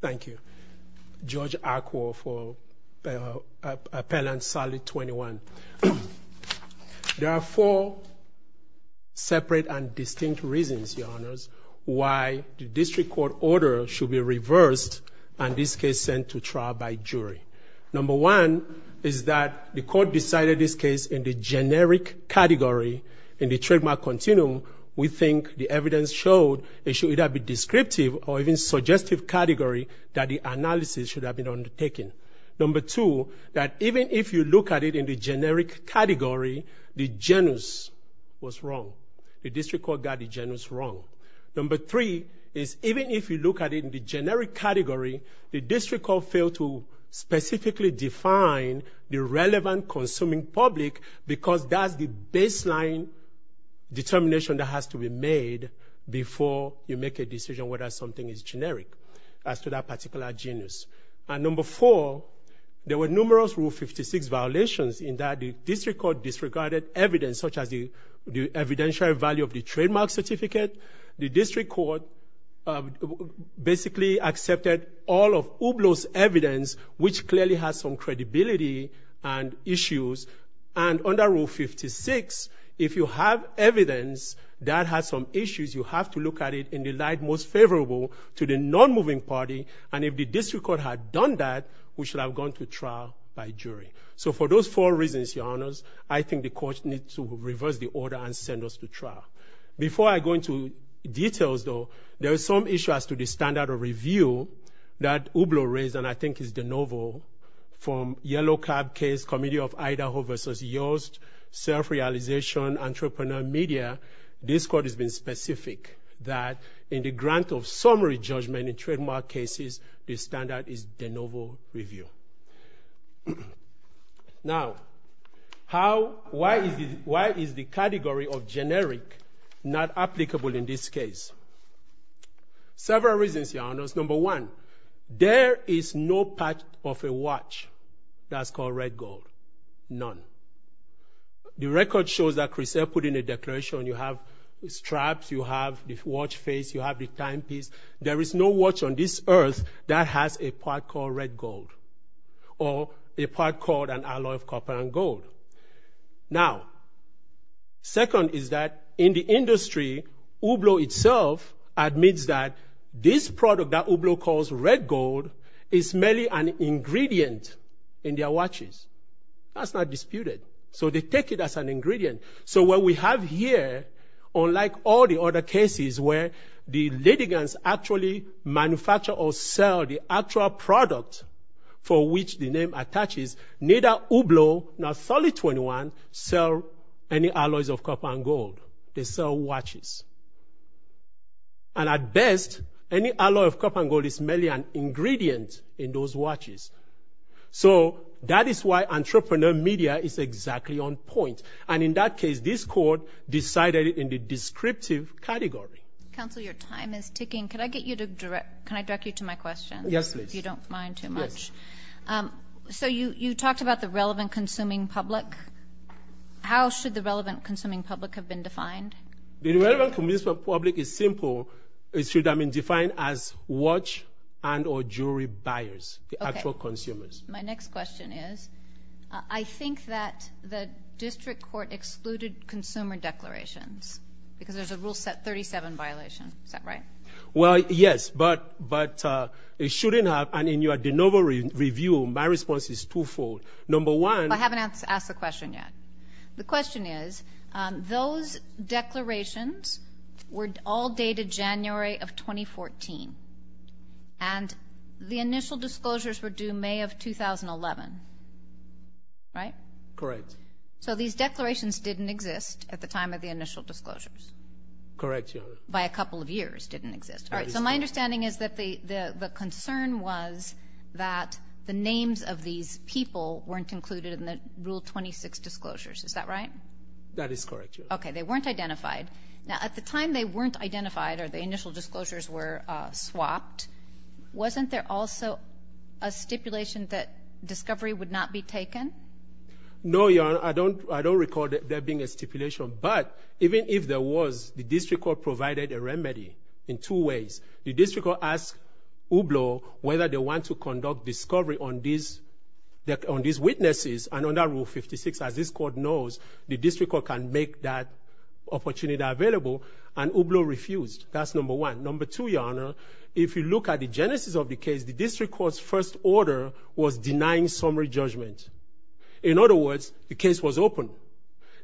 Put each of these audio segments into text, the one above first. Thank you. George Akwo for Appellant Sally 21. There are four separate and distinct reasons, Your Honors, why the district court order should be reversed and this case sent to trial by jury. Number one is that the court decided this case in the generic category in the trademark continuum. We think the evidence showed it should either be descriptive or even suggestive category that the analysis should have been undertaken. Number two, that even if you look at it in the generic category, the genus was wrong. The district court got the genus wrong. Number three is even if you look at it in the generic category, the district court failed to specifically define the relevant consuming public because that's the baseline determination that has to be made before you make a decision whether something is generic as to that particular genus. And number four, there were numerous Rule 56 violations in that the district court disregarded evidence such as the evidentiary value of the trademark certificate. The district court basically accepted all of Hublot's evidence, which clearly has some credibility and issues. And under Rule 56, if you have evidence that has some issues, you have to look at it in the light most favorable to the non-moving party. And if the district court had done that, we should have gone to trial by jury. So for those four reasons, your honors, I think the court needs to reverse the order and send us to trial. Before I go into details though, there is some issue as to the standard of review that Hublot raised and I think is the novel from Yellow Cab case, Committee of Idaho versus Yoast, Self-Realization, Entrepreneur Media. This court has been specific that in the grant of summary judgment in trademark cases, the standard is the novel review. Now, why is the category of generic not applicable in this case? Several reasons, your honors. Number one, there is no part of a watch that's called red gold, none. The record shows that Crusoe put in a declaration you have straps, you have the watch face, you have the time piece. There is no watch on this earth that has a part called red gold or a part called an alloy of copper and gold. Now, second is that in the industry, Hublot itself admits that this product that Hublot calls red gold is merely an ingredient That's not disputed. So they take it as an ingredient. So what we have here, unlike all the other cases where the litigants actually manufacture or sell the actual product for which the name attaches, neither Hublot nor Solid 21 sell any alloys of copper and gold, they sell watches. And at best, any alloy of copper and gold is merely an ingredient in those watches. So that is why Entrepreneur Media is exactly on point. And in that case, this court decided it in the descriptive category. Council, your time is ticking. Can I get you to direct, can I direct you to my question? Yes, please. If you don't mind too much. So you talked about the relevant consuming public. How should the relevant consuming public have been defined? The relevant consuming public is simple. It should have been defined as watch and or jewelry buyers, the actual consumers. My next question is, I think that the district court excluded consumer declarations because there's a rule set 37 violation, is that right? Well, yes, but it shouldn't have, and in your de novo review, my response is twofold. Number one- I haven't asked the question yet. The question is, those declarations were all dated January of 2014. And the initial disclosures were due May of 2011. Right? Correct. So these declarations didn't exist at the time of the initial disclosures? Correct, Your Honor. By a couple of years didn't exist. All right, so my understanding is that the concern was that the names of these people weren't included in the rule 26 disclosures, is that right? That is correct, Your Honor. Okay, they weren't identified. Now, at the time they weren't identified or the initial disclosures were swapped, wasn't there also a stipulation that discovery would not be taken? No, Your Honor, I don't recall there being a stipulation, but even if there was, the district court provided a remedy in two ways. The district court asked Hublot whether they want to conduct discovery on these witnesses, and under rule 56, as this court knows, the district court can make that opportunity available, and Hublot refused. That's number one. Number two, Your Honor, if you look at the genesis of the case, the district court's first order was denying summary judgment. In other words, the case was open.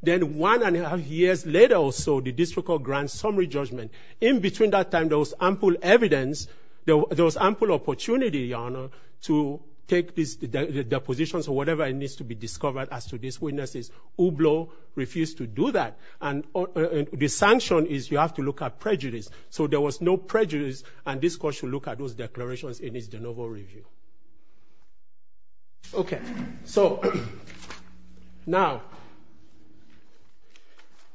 Then one and a half years later or so, the district court grants summary judgment. In between that time, there was ample evidence, there was ample opportunity, Your Honor, to take these depositions or whatever needs to be discovered as to these witnesses. Hublot refused to do that, and the sanction is you have to look at prejudice. So there was no prejudice, and this court should look at those declarations in its de novo review. Okay, so now,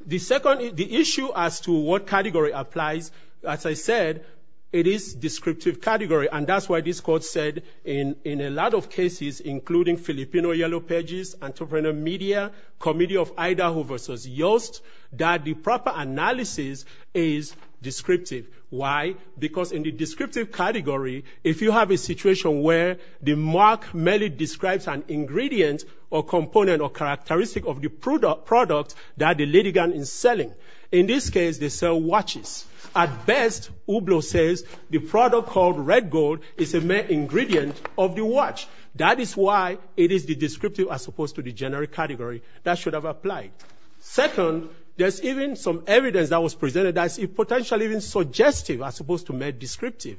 the issue as to what category applies, as I said, it is descriptive category, and that's why this court said in a lot of cases, including Filipino Yellow Pages, Entrepreneur Media, Committee of Idaho versus Yoast, that the proper analysis is descriptive. Why? Because in the descriptive category, if you have a situation where the mark merely describes an ingredient or component or characteristic of the product that the litigant is selling, in this case, they sell watches. At best, Hublot says the product called red gold is a main ingredient of the watch. That is why it is the descriptive as opposed to the generic category that should have applied. Second, there's even some evidence that was presented as potentially even suggestive as opposed to made descriptive.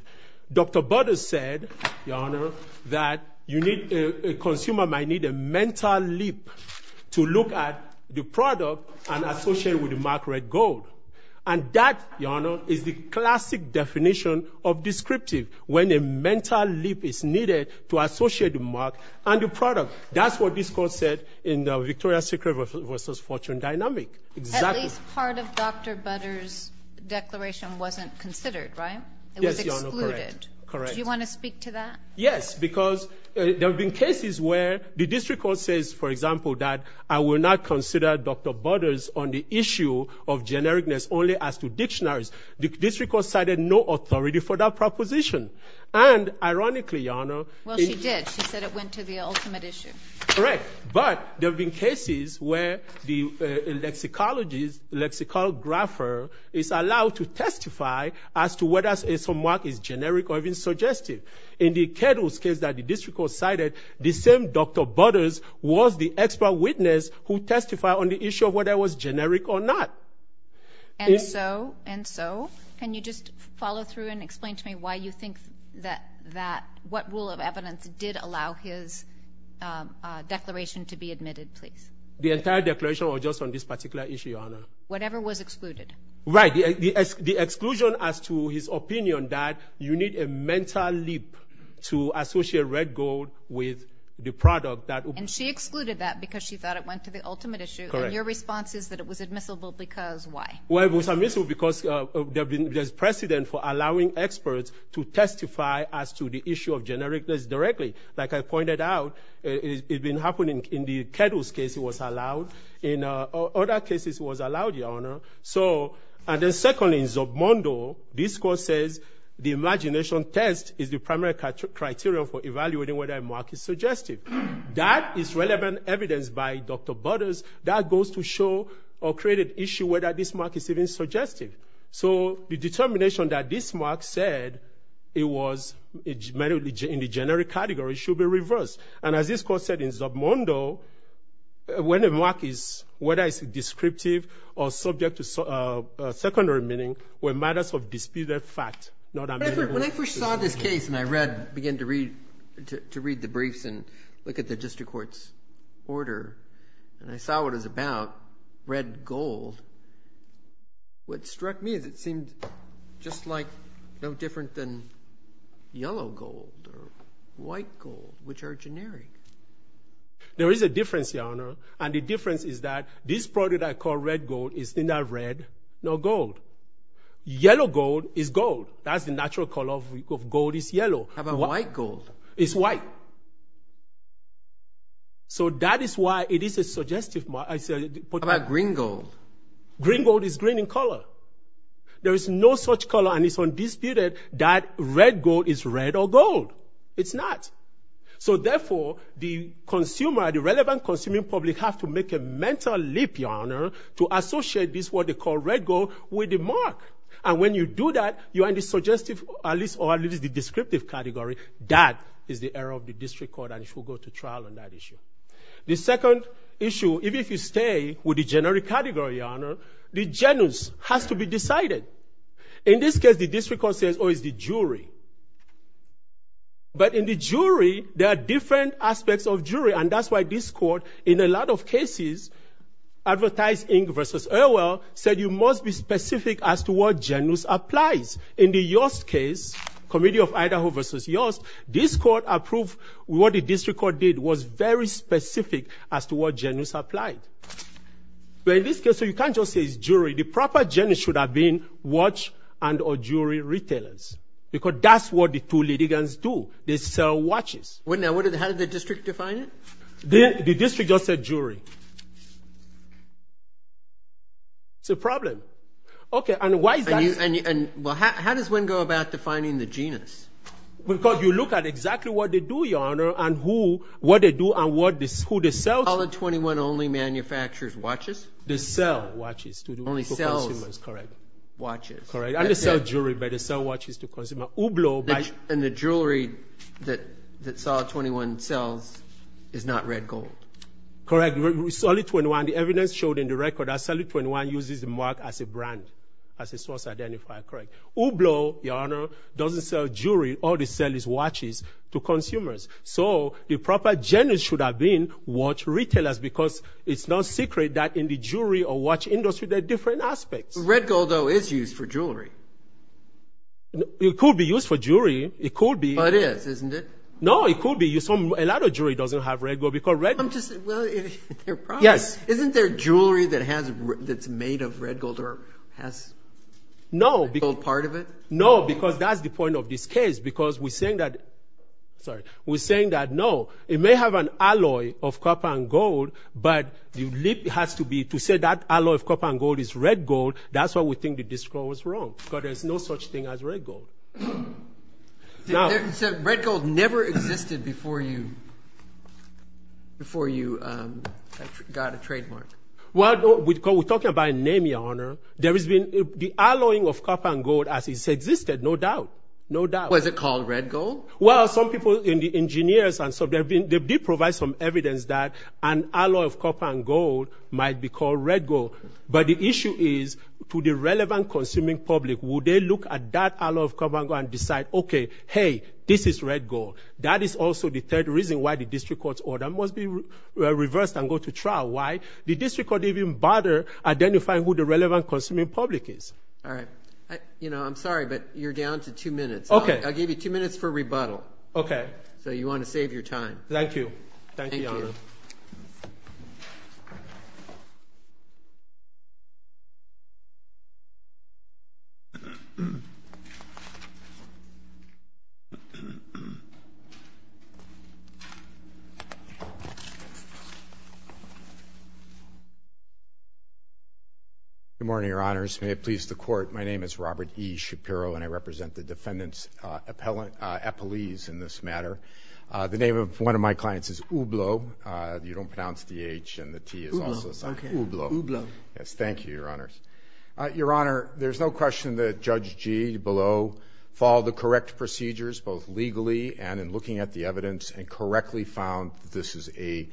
Dr. Butters said, Your Honor, that a consumer might need a mental leap to look at the product and associate with the mark red gold. And that, Your Honor, is the classic definition of descriptive, when a mental leap is needed to associate the mark and the product. That's what this court said in the Victoria's Secret versus Fortune dynamic. Exactly. At least part of Dr. Butters' declaration wasn't considered, right? Yes, Your Honor, correct. It was excluded. Correct. Do you wanna speak to that? Yes, because there have been cases where the district court says, for example, that I will not consider Dr. Butters on the issue of genericness only as to dictionaries. The district court cited no authority for that proposition. And ironically, Your Honor- Well, she did. She said it went to the ultimate issue. Correct. But there have been cases where the lexicologist, lexicographer is allowed to testify as to whether a mark is generic or even suggestive. In the Kedl's case that the district court cited, the same Dr. Butters was the expert witness who testified on the issue of whether it was generic or not. And so, can you just follow through and explain to me why you think that, what rule of evidence did allow his declaration to be admitted, please? The entire declaration was just on this particular issue, Your Honor. Whatever was excluded. Right, the exclusion as to his opinion that you need a mental leap to associate red gold with the product that- And she excluded that because she thought it went to the ultimate issue. Correct. And your response is that it was admissible because why? Well, it was admissible because there's precedent for allowing experts to testify as to the issue of genericness directly. Like I pointed out, it had been happening in the Kedl's case, it was allowed. In other cases, it was allowed, Your Honor. So, and then secondly, in Zabmondo, this court says the imagination test is the primary criteria for evaluating whether a mark is suggestive. That is relevant evidence by Dr. Butters that goes to show or create an issue whether this mark is even suggestive. So, the determination that this mark said it was in the generic category should be reversed. And as this court said in Zabmondo, when a mark is, whether it's descriptive or subject to secondary meaning were matters of disputed fact, not admissible. When I first saw this case and I read, began to read the briefs and look at the district court's order, and I saw what it was about, red gold, what struck me is it seemed just like no different than yellow gold or white gold, which are generic. There is a difference, Your Honor. And the difference is that this project that I call red gold is neither red nor gold. Yellow gold is gold. That's the natural color of gold is yellow. How about white gold? It's white. So, that is why it is a suggestive mark. I said, put that. How about green gold? Green gold is green in color. There is no such color and it's undisputed that red gold is red or gold. It's not. So, therefore, the consumer, the relevant consuming public have to make a mental leap, Your Honor, to associate this what they call red gold with the mark. And when you do that, you are in the suggestive, at least, or at least the descriptive category. That is the error of the district court and it should go to trial on that issue. The second issue, even if you stay with the generic category, Your Honor, the genus has to be decided. In this case, the district court says, oh, it's the jury. But in the jury, there are different aspects of jury and that's why this court, in a lot of cases, Advertise Inc. versus Orwell, said you must be specific as to what genus applies. In the Yost case, Committee of Idaho versus Yost, this court approved what the district court did, was very specific as to what genus applied. But in this case, you can't just say it's jury. The proper genus should have been watch and or jewelry retailers. Because that's what the two litigants do. They sell watches. Now, how did the district define it? The district just said jury. It's a problem. Okay, and why is that? Well, how does one go about defining the genus? Because you look at exactly what they do, Your Honor, and who, what they do and who they sell to. Solid 21 only manufactures watches? They sell watches to the consumers, correct. Watches. Correct, and they sell jewelry, but they sell watches to consumers. Hublot buys. And the jewelry that Solid 21 sells is not red gold. Correct, Solid 21, the evidence showed in the record that Solid 21 uses the mark as a brand, as a source identifier, correct. Hublot, Your Honor, doesn't sell jewelry. All they sell is watches to consumers. So the proper genus should have been watch retailers because it's not secret that in the jewelry or watch industry, there are different aspects. Red gold, though, is used for jewelry. It could be used for jewelry. It could be. But it is, isn't it? No, it could be used. A lot of jewelry doesn't have red gold because red. I'm just, well, they're probably. Yes. Isn't there jewelry that's made of red gold or has a gold part of it? No, because that's the point of this case because we're saying that, sorry, we're saying that, no, it may have an alloy of copper and gold, but the lead has to be, to say that alloy of copper and gold is red gold, that's what we think the district court was wrong because there's no such thing as red gold. Now. So red gold never existed before you, before you got a trademark? Well, we're talking about a name, Your Honor. There has been, the alloying of copper and gold as it's existed, no doubt, no doubt. Was it called red gold? Well, some people in the engineers and so they did provide some evidence that an alloy of copper and gold might be called red gold. But the issue is, to the relevant consuming public, would they look at that alloy of copper and gold and decide, okay, hey, this is red gold. That is also the third reason why the district court's order must be reversed and go to trial. Why? The district court didn't even bother identifying who the relevant consuming public is. All right. You know, I'm sorry, but you're down to two minutes. Okay. I'll give you two minutes for rebuttal. Okay. So you want to save your time. Thank you. Thank you, Your Honor. Thank you. Mr. Shapiro. Good morning, Your Honors. May it please the court. My name is Robert E. Shapiro and I represent the defendant's appellees in this matter. The name of one of my clients is Ublo. Ublo. Ublo. Yes, thank you, Your Honors. Your Honor, there's no question that Judge Gee below followed the correct procedures, both legally and in looking at the evidence and correctly found this is a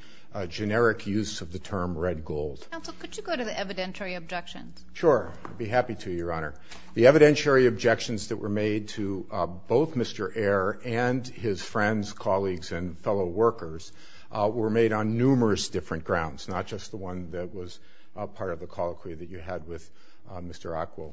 generic use of the term red gold. Counsel, could you go to the evidentiary objections? Sure. I'd be happy to, Your Honor. The evidentiary objections that were made to both Mr. Ayer and his friends, colleagues, and fellow workers were made on numerous different grounds, not just the one that was a part of the colloquy that you had with Mr. Acquo.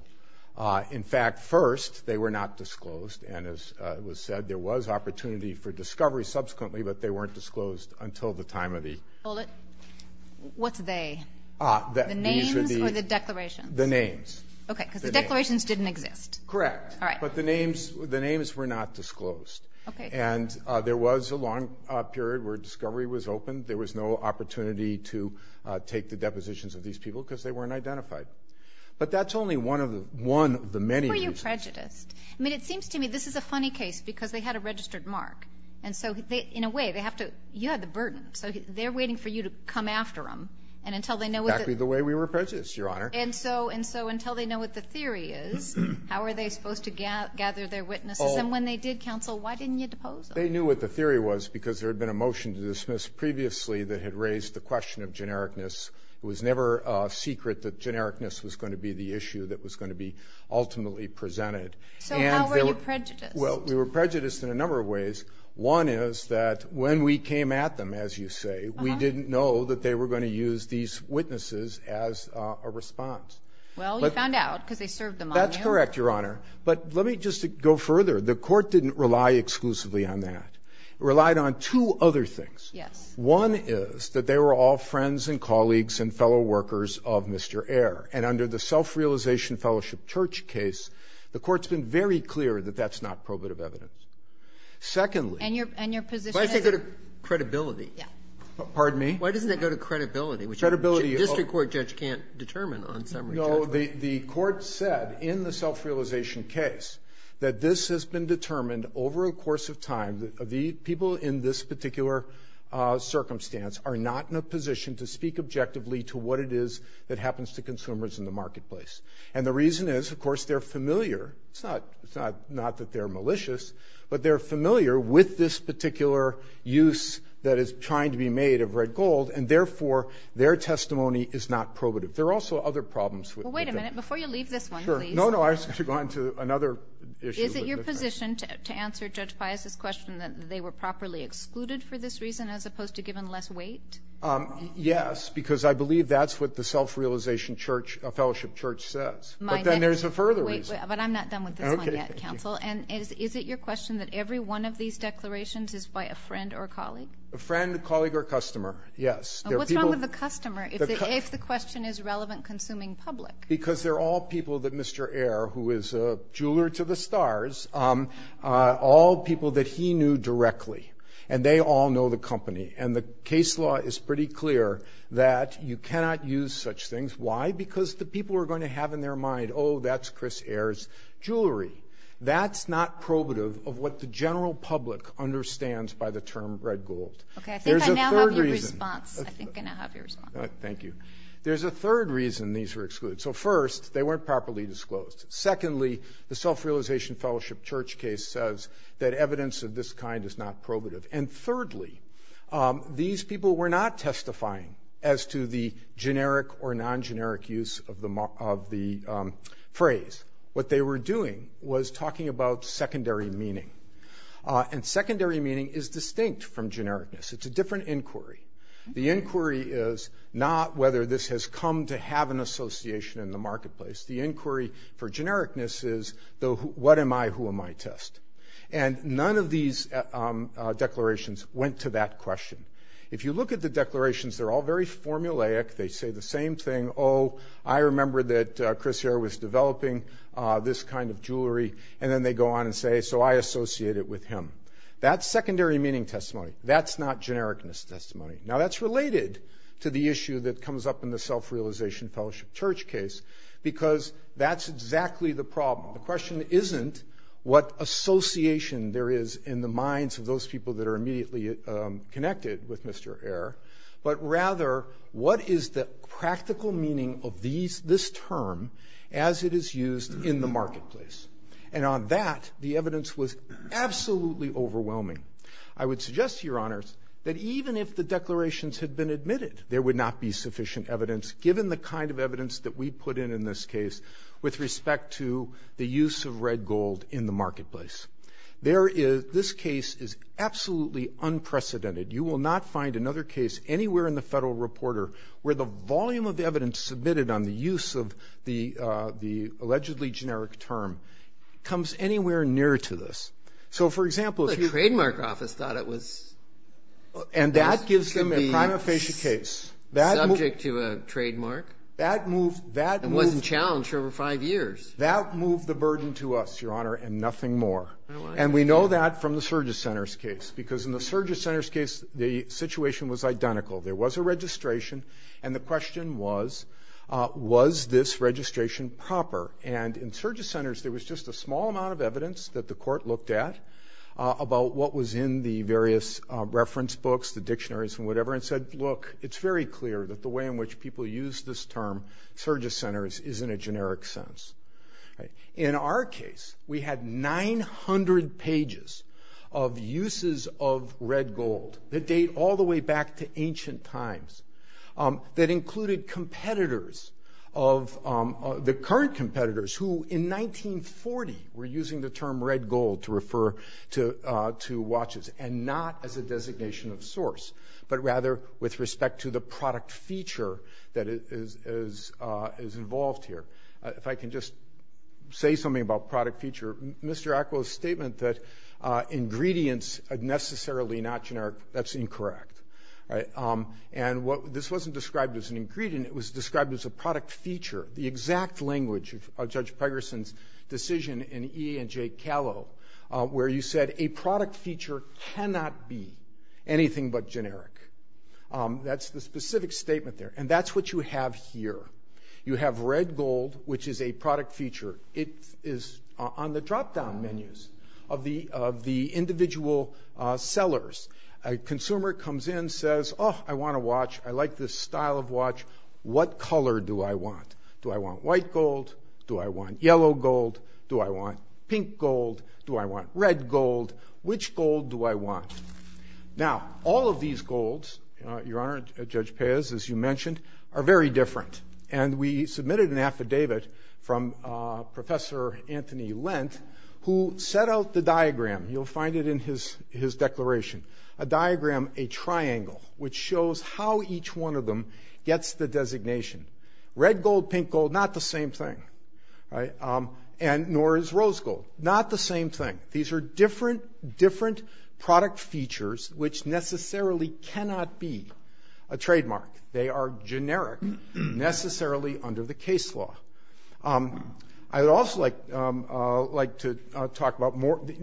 In fact, first, they were not disclosed. And as was said, there was opportunity for discovery subsequently, but they weren't disclosed until the time of the- Hold it. What's they? The names or the declarations? The names. Okay, because the declarations didn't exist. Correct. All right. But the names were not disclosed. Okay. And there was a long period where discovery was open. There was no opportunity to take the depositions of these people because they weren't identified. But that's only one of the many reasons. Were you prejudiced? I mean, it seems to me this is a funny case because they had a registered mark. And so in a way, they have to, you had the burden. So they're waiting for you to come after them. And until they know what the- Exactly the way we were prejudiced, Your Honor. And so until they know what the theory is, how are they supposed to gather their witnesses? And when they did, counsel, why didn't you depose them? They knew what the theory was because there had been a motion to dismiss previously that had raised the question of genericness. It was never a secret that genericness was going to be the issue that was going to be ultimately presented. So how were you prejudiced? Well, we were prejudiced in a number of ways. One is that when we came at them, as you say, we didn't know that they were going to use these witnesses as a response. Well, you found out because they served them on you. That's correct, Your Honor. But let me just go further. The court didn't rely exclusively on that. It relied on two other things. Yes. One is that they were all friends and colleagues and fellow workers of Mr. Ayer. And under the Self-Realization Fellowship Church case, the court's been very clear that that's not probative evidence. Secondly- And your position is- Why doesn't it go to credibility? Yeah. Pardon me? Why doesn't it go to credibility? Credibility of- Which a district court judge can't determine on summary judgment. No, the court said in the Self-Realization case that this has been determined over a course of time people in this particular circumstance are not in a position to speak objectively to what it is that happens to consumers in the marketplace. And the reason is, of course, they're familiar. It's not that they're malicious, but they're familiar with this particular use that is trying to be made of red gold, and therefore, their testimony is not probative. There are also other problems with- Well, wait a minute. Before you leave this one, please- Sure. No, no. I was going to go on to another issue- Is it your position to answer Judge Pius's question that they were properly excluded for this reason, as opposed to given less weight? Yes, because I believe that's what the Self-Realization Fellowship Church says. But then there's a further reason. But I'm not done with this one yet, counsel. And is it your question that every one of these declarations is by a friend or a colleague? A friend, a colleague, or a customer. Yes. What's wrong with the customer if the question is relevant consuming public? Because they're all people that Mr. Ayer, who is a jeweler to the stars, all people that he knew directly. And they all know the company. And the case law is pretty clear that you cannot use such things. Why? Because the people are going to have in their mind, oh, that's Chris Ayer's jewelry. That's not probative of what the general public understands by the term red gold. Okay, I think I now have your response. I think I now have your response. Thank you. There's a third reason these were excluded. So first, they weren't properly disclosed. Secondly, the Self-Realization Fellowship Church case says that evidence of this kind is not probative. And thirdly, these people were not testifying as to the generic or non-generic use of the phrase. What they were doing was talking about secondary meaning. And secondary meaning is distinct from genericness. It's a different inquiry. The inquiry is not whether this has come to have an association in the marketplace. The inquiry for genericness is, what am I, who am I test? And none of these declarations went to that question. If you look at the declarations, they're all very formulaic. They say the same thing. Oh, I remember that Chris Ayer was developing this kind of jewelry. And then they go on and say, so I associate it with him. That's secondary meaning testimony. That's not genericness testimony. Now that's related to the issue that comes up in the Self-Realization Fellowship Church case because that's exactly the problem. The question isn't what association there is in the minds of those people that are immediately connected with Mr. Ayer, but rather what is the practical meaning of this term as it is used in the marketplace? And on that, the evidence was absolutely overwhelming. I would suggest, Your Honors, that even if the declarations had been admitted, there would not be sufficient evidence given the kind of evidence that we put in in this case with respect to the use of red gold in the marketplace. There is, this case is absolutely unprecedented. You will not find another case anywhere in the Federal Reporter where the volume of evidence submitted on the use of the allegedly generic term comes anywhere near to this. So for example, if you- The Trademark Office thought it was- And that gives them a prima facie case. Subject to a trademark. That moved- It wasn't challenged for over five years. That moved the burden to us, Your Honor, and nothing more. And we know that from the Surges Center's case because in the Surges Center's case, the situation was identical. There was a registration, and the question was, was this registration proper? And in Surges Center's, there was just a small amount of evidence that the court looked at about what was in the various reference books, the dictionaries and whatever, and said, look, it's very clear that the way in which people use this term, Surges Center, is in a generic sense. In our case, we had 900 pages of uses of red gold that date all the way back to ancient times that included competitors of, the current competitors who, in 1940, were using the term red gold to refer to watches and not as a designation of source, but rather with respect to the product feature that is involved here. If I can just say something about product feature, Mr. Acquo's statement that ingredients are necessarily not generic, that's incorrect, right? And this wasn't described as an ingredient. It was described as a product feature, the exact language of Judge Pegerson's decision in E.A. and Jake Callow, where you said a product feature cannot be anything but generic. That's the specific statement there. And that's what you have here. You have red gold, which is a product feature. It is on the dropdown menus of the individual sellers. A consumer comes in, says, oh, I want a watch. I like this style of watch. What color do I want? Do I want white gold? Do I want yellow gold? Do I want pink gold? Do I want red gold? Which gold do I want? Now, all of these golds, Your Honor, Judge Pez, as you mentioned, are very different. And we submitted an affidavit from Professor Anthony Lent, who set out the diagram. You'll find it in his declaration. A diagram, a triangle, which shows how each one of them gets the designation. Red gold, pink gold, not the same thing, right? And nor is rose gold, not the same thing. These are different product features, which necessarily cannot be a trademark. They are generic, necessarily under the case law. I would also like to talk about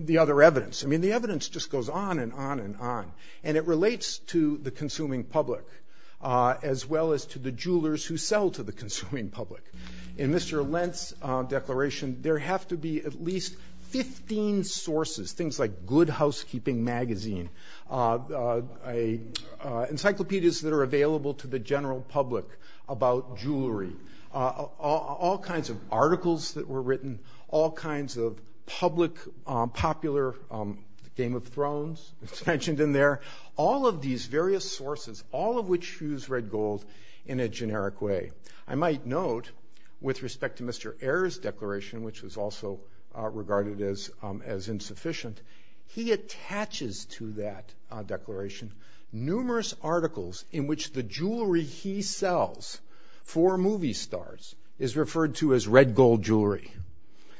the other evidence. I mean, the evidence just goes on and on and on. And it relates to the consuming public, as well as to the jewelers who sell to the consuming public. In Mr. Lent's declaration, there have to be at least 15 sources, things like Good Housekeeping Magazine, encyclopedias that are available to the general public about jewelry, all kinds of articles that were written, all kinds of public, popular, Game of Thrones, as mentioned in there, all of these various sources, all of which use red gold in a generic way. I might note, with respect to Mr. Ayer's declaration, which was also regarded as insufficient, he attaches to that declaration, numerous articles in which the jewelry he sells for movie stars is referred to as red gold jewelry.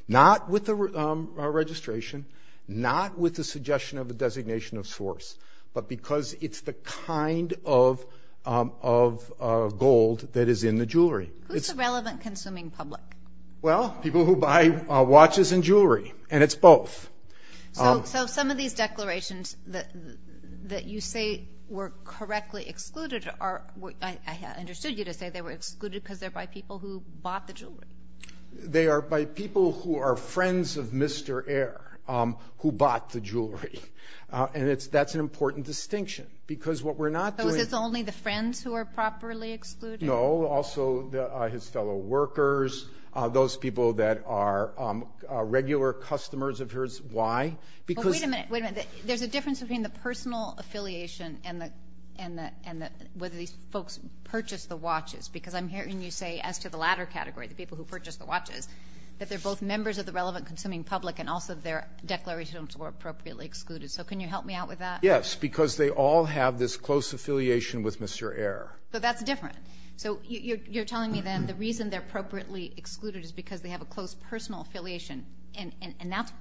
Not with the registration, not with the suggestion of the designation of source, but because it's the kind of gold that is in the jewelry. It's- Who's the relevant consuming public? Well, people who buy watches and jewelry, and it's both. So some of these declarations that you say were correctly excluded are, I understood you to say they were excluded because they're by people who bought the jewelry. They are by people who are friends of Mr. Ayer who bought the jewelry. And that's an important distinction because what we're not doing- So is this only the friends who are properly excluded? No, also his fellow workers, those people that are regular customers of his, why? Because- Wait a minute, wait a minute. There's a difference between the personal affiliation and whether these folks purchased the watches because I'm hearing you say, as to the latter category, the people who purchased the watches, that they're both members of the relevant consuming public and also their declarations were appropriately excluded. So can you help me out with that? Yes, because they all have this close affiliation with Mr. Ayer. But that's different. So you're telling me then the reason they're appropriately excluded is because they have a close personal affiliation and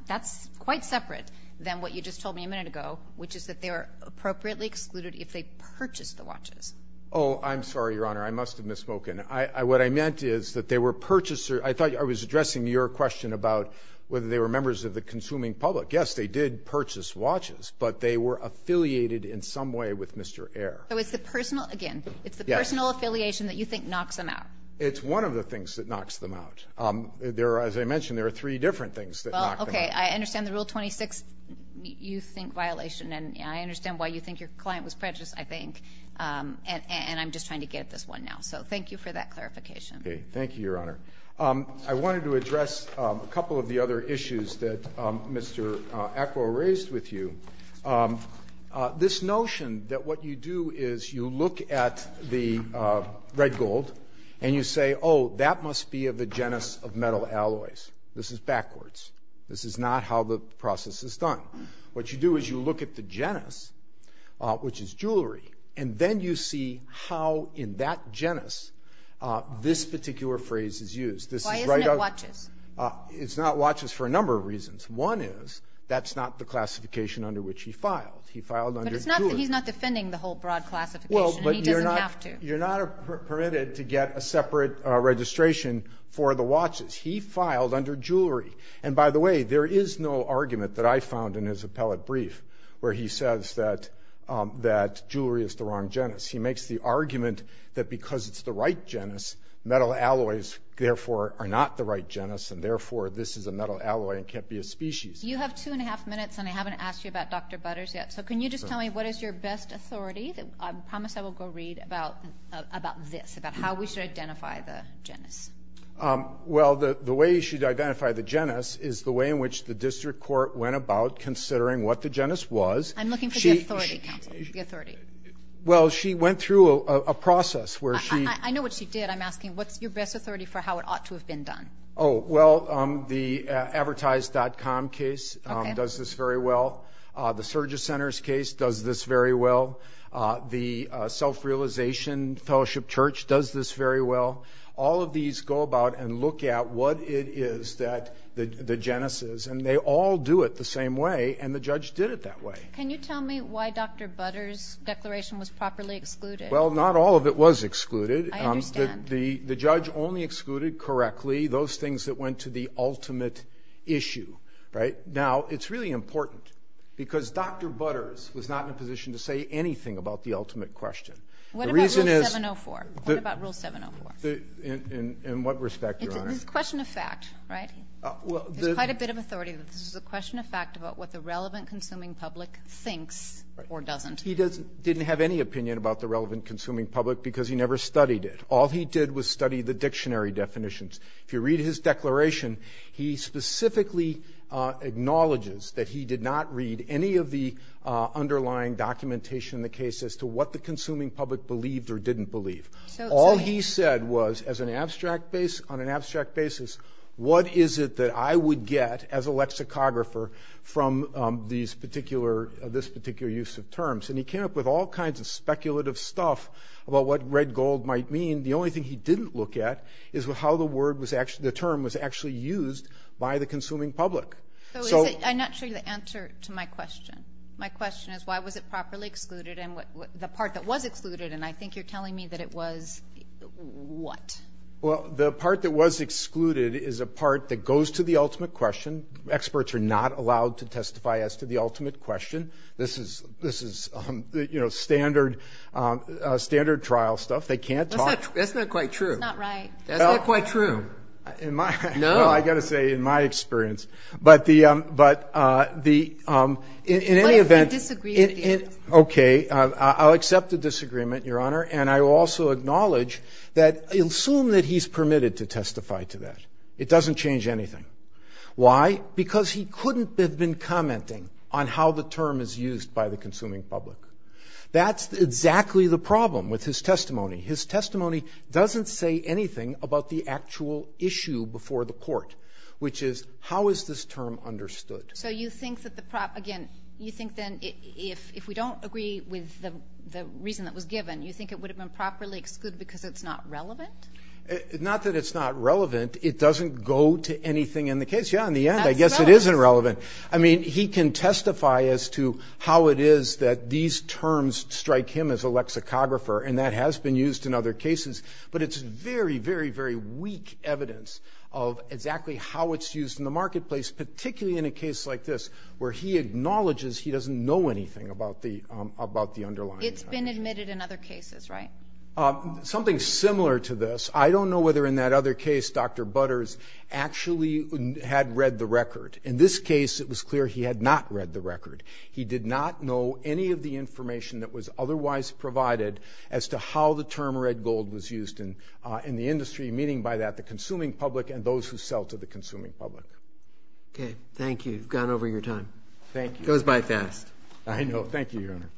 that's quite separate than what you just told me a minute ago, which is that they are appropriately excluded if they purchased the watches. Oh, I'm sorry, Your Honor. I must have misspoken. What I meant is that they were purchaser, I thought I was addressing your question about whether they were members of the consuming public. Yes, they did purchase watches, but they were affiliated in some way with Mr. Ayer. So it's the personal, again, it's the personal affiliation that you think knocks them out. It's one of the things that knocks them out. There are, as I mentioned, there are three different things that knock them out. Well, okay, I understand the Rule 26, you think violation, and I understand why you think your client was prejudiced, I think. And I'm just trying to get at this one now. So thank you for that clarification. Okay, thank you, Your Honor. I wanted to address a couple of the other issues that Mr. Acquo raised with you. This notion that what you do is you look at the red gold and you say, oh, that must be of the genus of metal alloys. This is backwards. This is not how the process is done. What you do is you look at the genus, which is jewelry, and then you see how in that genus this particular phrase is used. This is right out- Why isn't it watches? It's not watches for a number of reasons. One is, that's not the classification under which he filed. He filed under jewelry. But he's not defending the whole broad classification, and he doesn't have to. You're not permitted to get a separate registration for the watches. He filed under jewelry. And by the way, there is no argument that I found in his appellate brief where he says that jewelry is the wrong genus. He makes the argument that because it's the right genus, metal alloys, therefore, are not the right genus, and therefore, this is a metal alloy and can't be a species. You have two and a half minutes, and I haven't asked you about Dr. Butters yet. So can you just tell me what is your best authority? I promise I will go read about this, about how we should identify the genus. Well, the way you should identify the genus is the way in which the district court went about considering what the genus was. I'm looking for the authority, counsel, the authority. Well, she went through a process where she- I know what she did. I'm asking, what's your best authority for how it ought to have been done? Oh, well, the advertised.com case does this very well. The Surgeon Center's case does this very well. The Self-Realization Fellowship Church does this very well. All of these go about and look at what it is that the genus is, and they all do it the same way, and the judge did it that way. Can you tell me why Dr. Butters' declaration was properly excluded? Well, not all of it was excluded. I understand. The judge only excluded correctly those things that went to the ultimate issue, right? Now, it's really important because Dr. Butters was not in a position to say anything about the ultimate question. The reason is- What about Rule 704? What about Rule 704? In what respect, Your Honor? It's a question of fact, right? Well, the- There's quite a bit of authority. This is a question of fact about what the relevant consuming public thinks or doesn't. He didn't have any opinion about the relevant consuming public because he never studied it. All he did was study the dictionary definitions. If you read his declaration, he specifically acknowledges that he did not read any of the underlying documentation in the case as to what the consuming public believed or didn't believe. All he said was, on an abstract basis, what is it that I would get as a lexicographer from this particular use of terms? And he came up with all kinds of speculative stuff about what red gold might mean. The only thing he didn't look at is how the term was actually used by the consuming public. So is it- I'm not sure the answer to my question. My question is why was it properly excluded and the part that was excluded, and I think you're telling me that it was what? Well, the part that was excluded is a part that goes to the ultimate question. Experts are not allowed to testify as to the ultimate question. This is standard trial stuff. They can't talk- That's not quite true. That's not right. That's not quite true. In my- No. Well, I gotta say, in my experience, but the, in any event- What if we disagree with you? Okay, I'll accept the disagreement, Your Honor, and I will also acknowledge that, assume that he's permitted to testify to that. It doesn't change anything. Why? Because he couldn't have been commenting on how the term is used by the consuming public. That's exactly the problem with his testimony. His testimony doesn't say anything about the actual issue before the court, which is, how is this term understood? So you think that the prop, again, you think then if we don't agree with the reason that was given, you think it would have been properly excluded because it's not relevant? Not that it's not relevant. It doesn't go to anything in the case. Yeah, in the end, I guess it is irrelevant. I mean, he can testify as to how it is that these terms strike him as a lexicographer, and that has been used in other cases, but it's very, very, very weak evidence of exactly how it's used in the marketplace, particularly in a case like this, where he acknowledges he doesn't know anything about the underlying. It's been admitted in other cases, right? Something similar to this. I don't know whether in that other case, Dr. Butters actually had read the record. In this case, it was clear he had not read the record. He did not know any of the information that was otherwise provided as to how the term red gold was used in the industry, meaning by that, the consuming public and those who sell to the consuming public. Okay, thank you. You've gone over your time. Thank you. It goes by fast. I know. Thank you, Your Honor.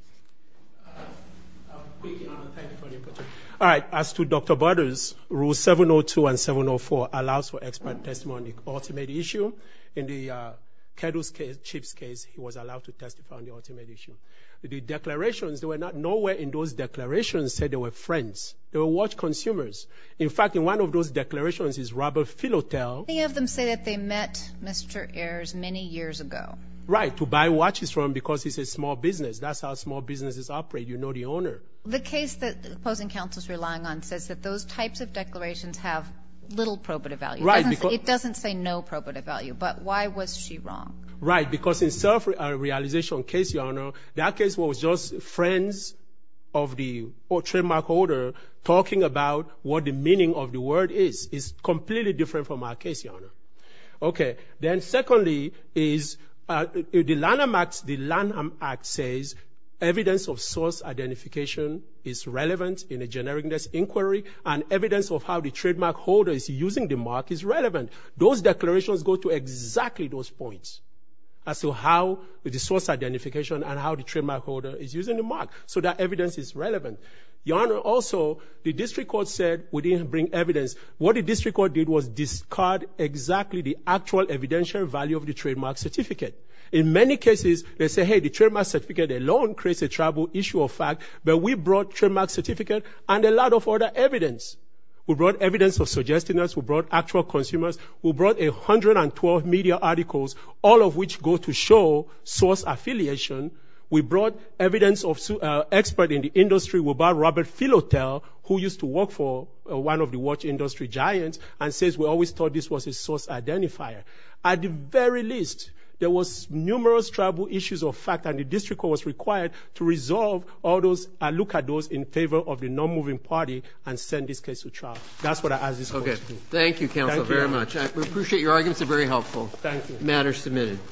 Quick, Your Honor. Thank you for your question. All right, as to Dr. Butters, Rule 702 and 704 allows for expert testimony on the ultimate issue. In the Kedl's case, Chief's case, he was allowed to testify on the ultimate issue. The declarations, there were not nowhere in those declarations said they were friends. They were watch consumers. In fact, in one of those declarations is Robert Philotel. Many of them say that they met Mr. Ayers many years ago. Right, to buy watches from him because he's a small business. That's how small businesses operate. You know the owner. The case that opposing counsel's relying on says that those types of declarations have little probative value. Right, because- It doesn't say no probative value, but why was she wrong? Right, because in self-realization case, Your Honor, that case was just friends of the trademark holder talking about what the meaning of the word is. It's completely different from our case, Your Honor. Okay, then secondly is the Lanham Act says evidence of source identification is relevant in a genericness inquiry, and evidence of how the trademark holder is using the mark is relevant. Those declarations go to exactly those points as to how the source identification and how the trademark holder is using the mark. So that evidence is relevant. Your Honor, also, the district court said we didn't bring evidence. What the district court did was discard exactly the actual evidential value of the trademark certificate. In many cases, they say, hey, the trademark certificate alone creates a trouble issue of fact, but we brought trademark certificate and a lot of other evidence. We brought evidence of suggestiveness. We brought actual consumers. We brought 112 media articles, all of which go to show source affiliation. We brought evidence of expert in the industry. We brought Robert Filotel, who used to work for one of the watch industry giants, and says we always thought this was a source identifier. At the very least, there was numerous trouble issues of fact, and the district court was required to resolve all those, look at those in favor of the non-moving party and send this case to trial. That's what I ask this question. Okay, thank you, counsel, very much. I appreciate your arguments, they're very helpful. Thank you. Matter submitted.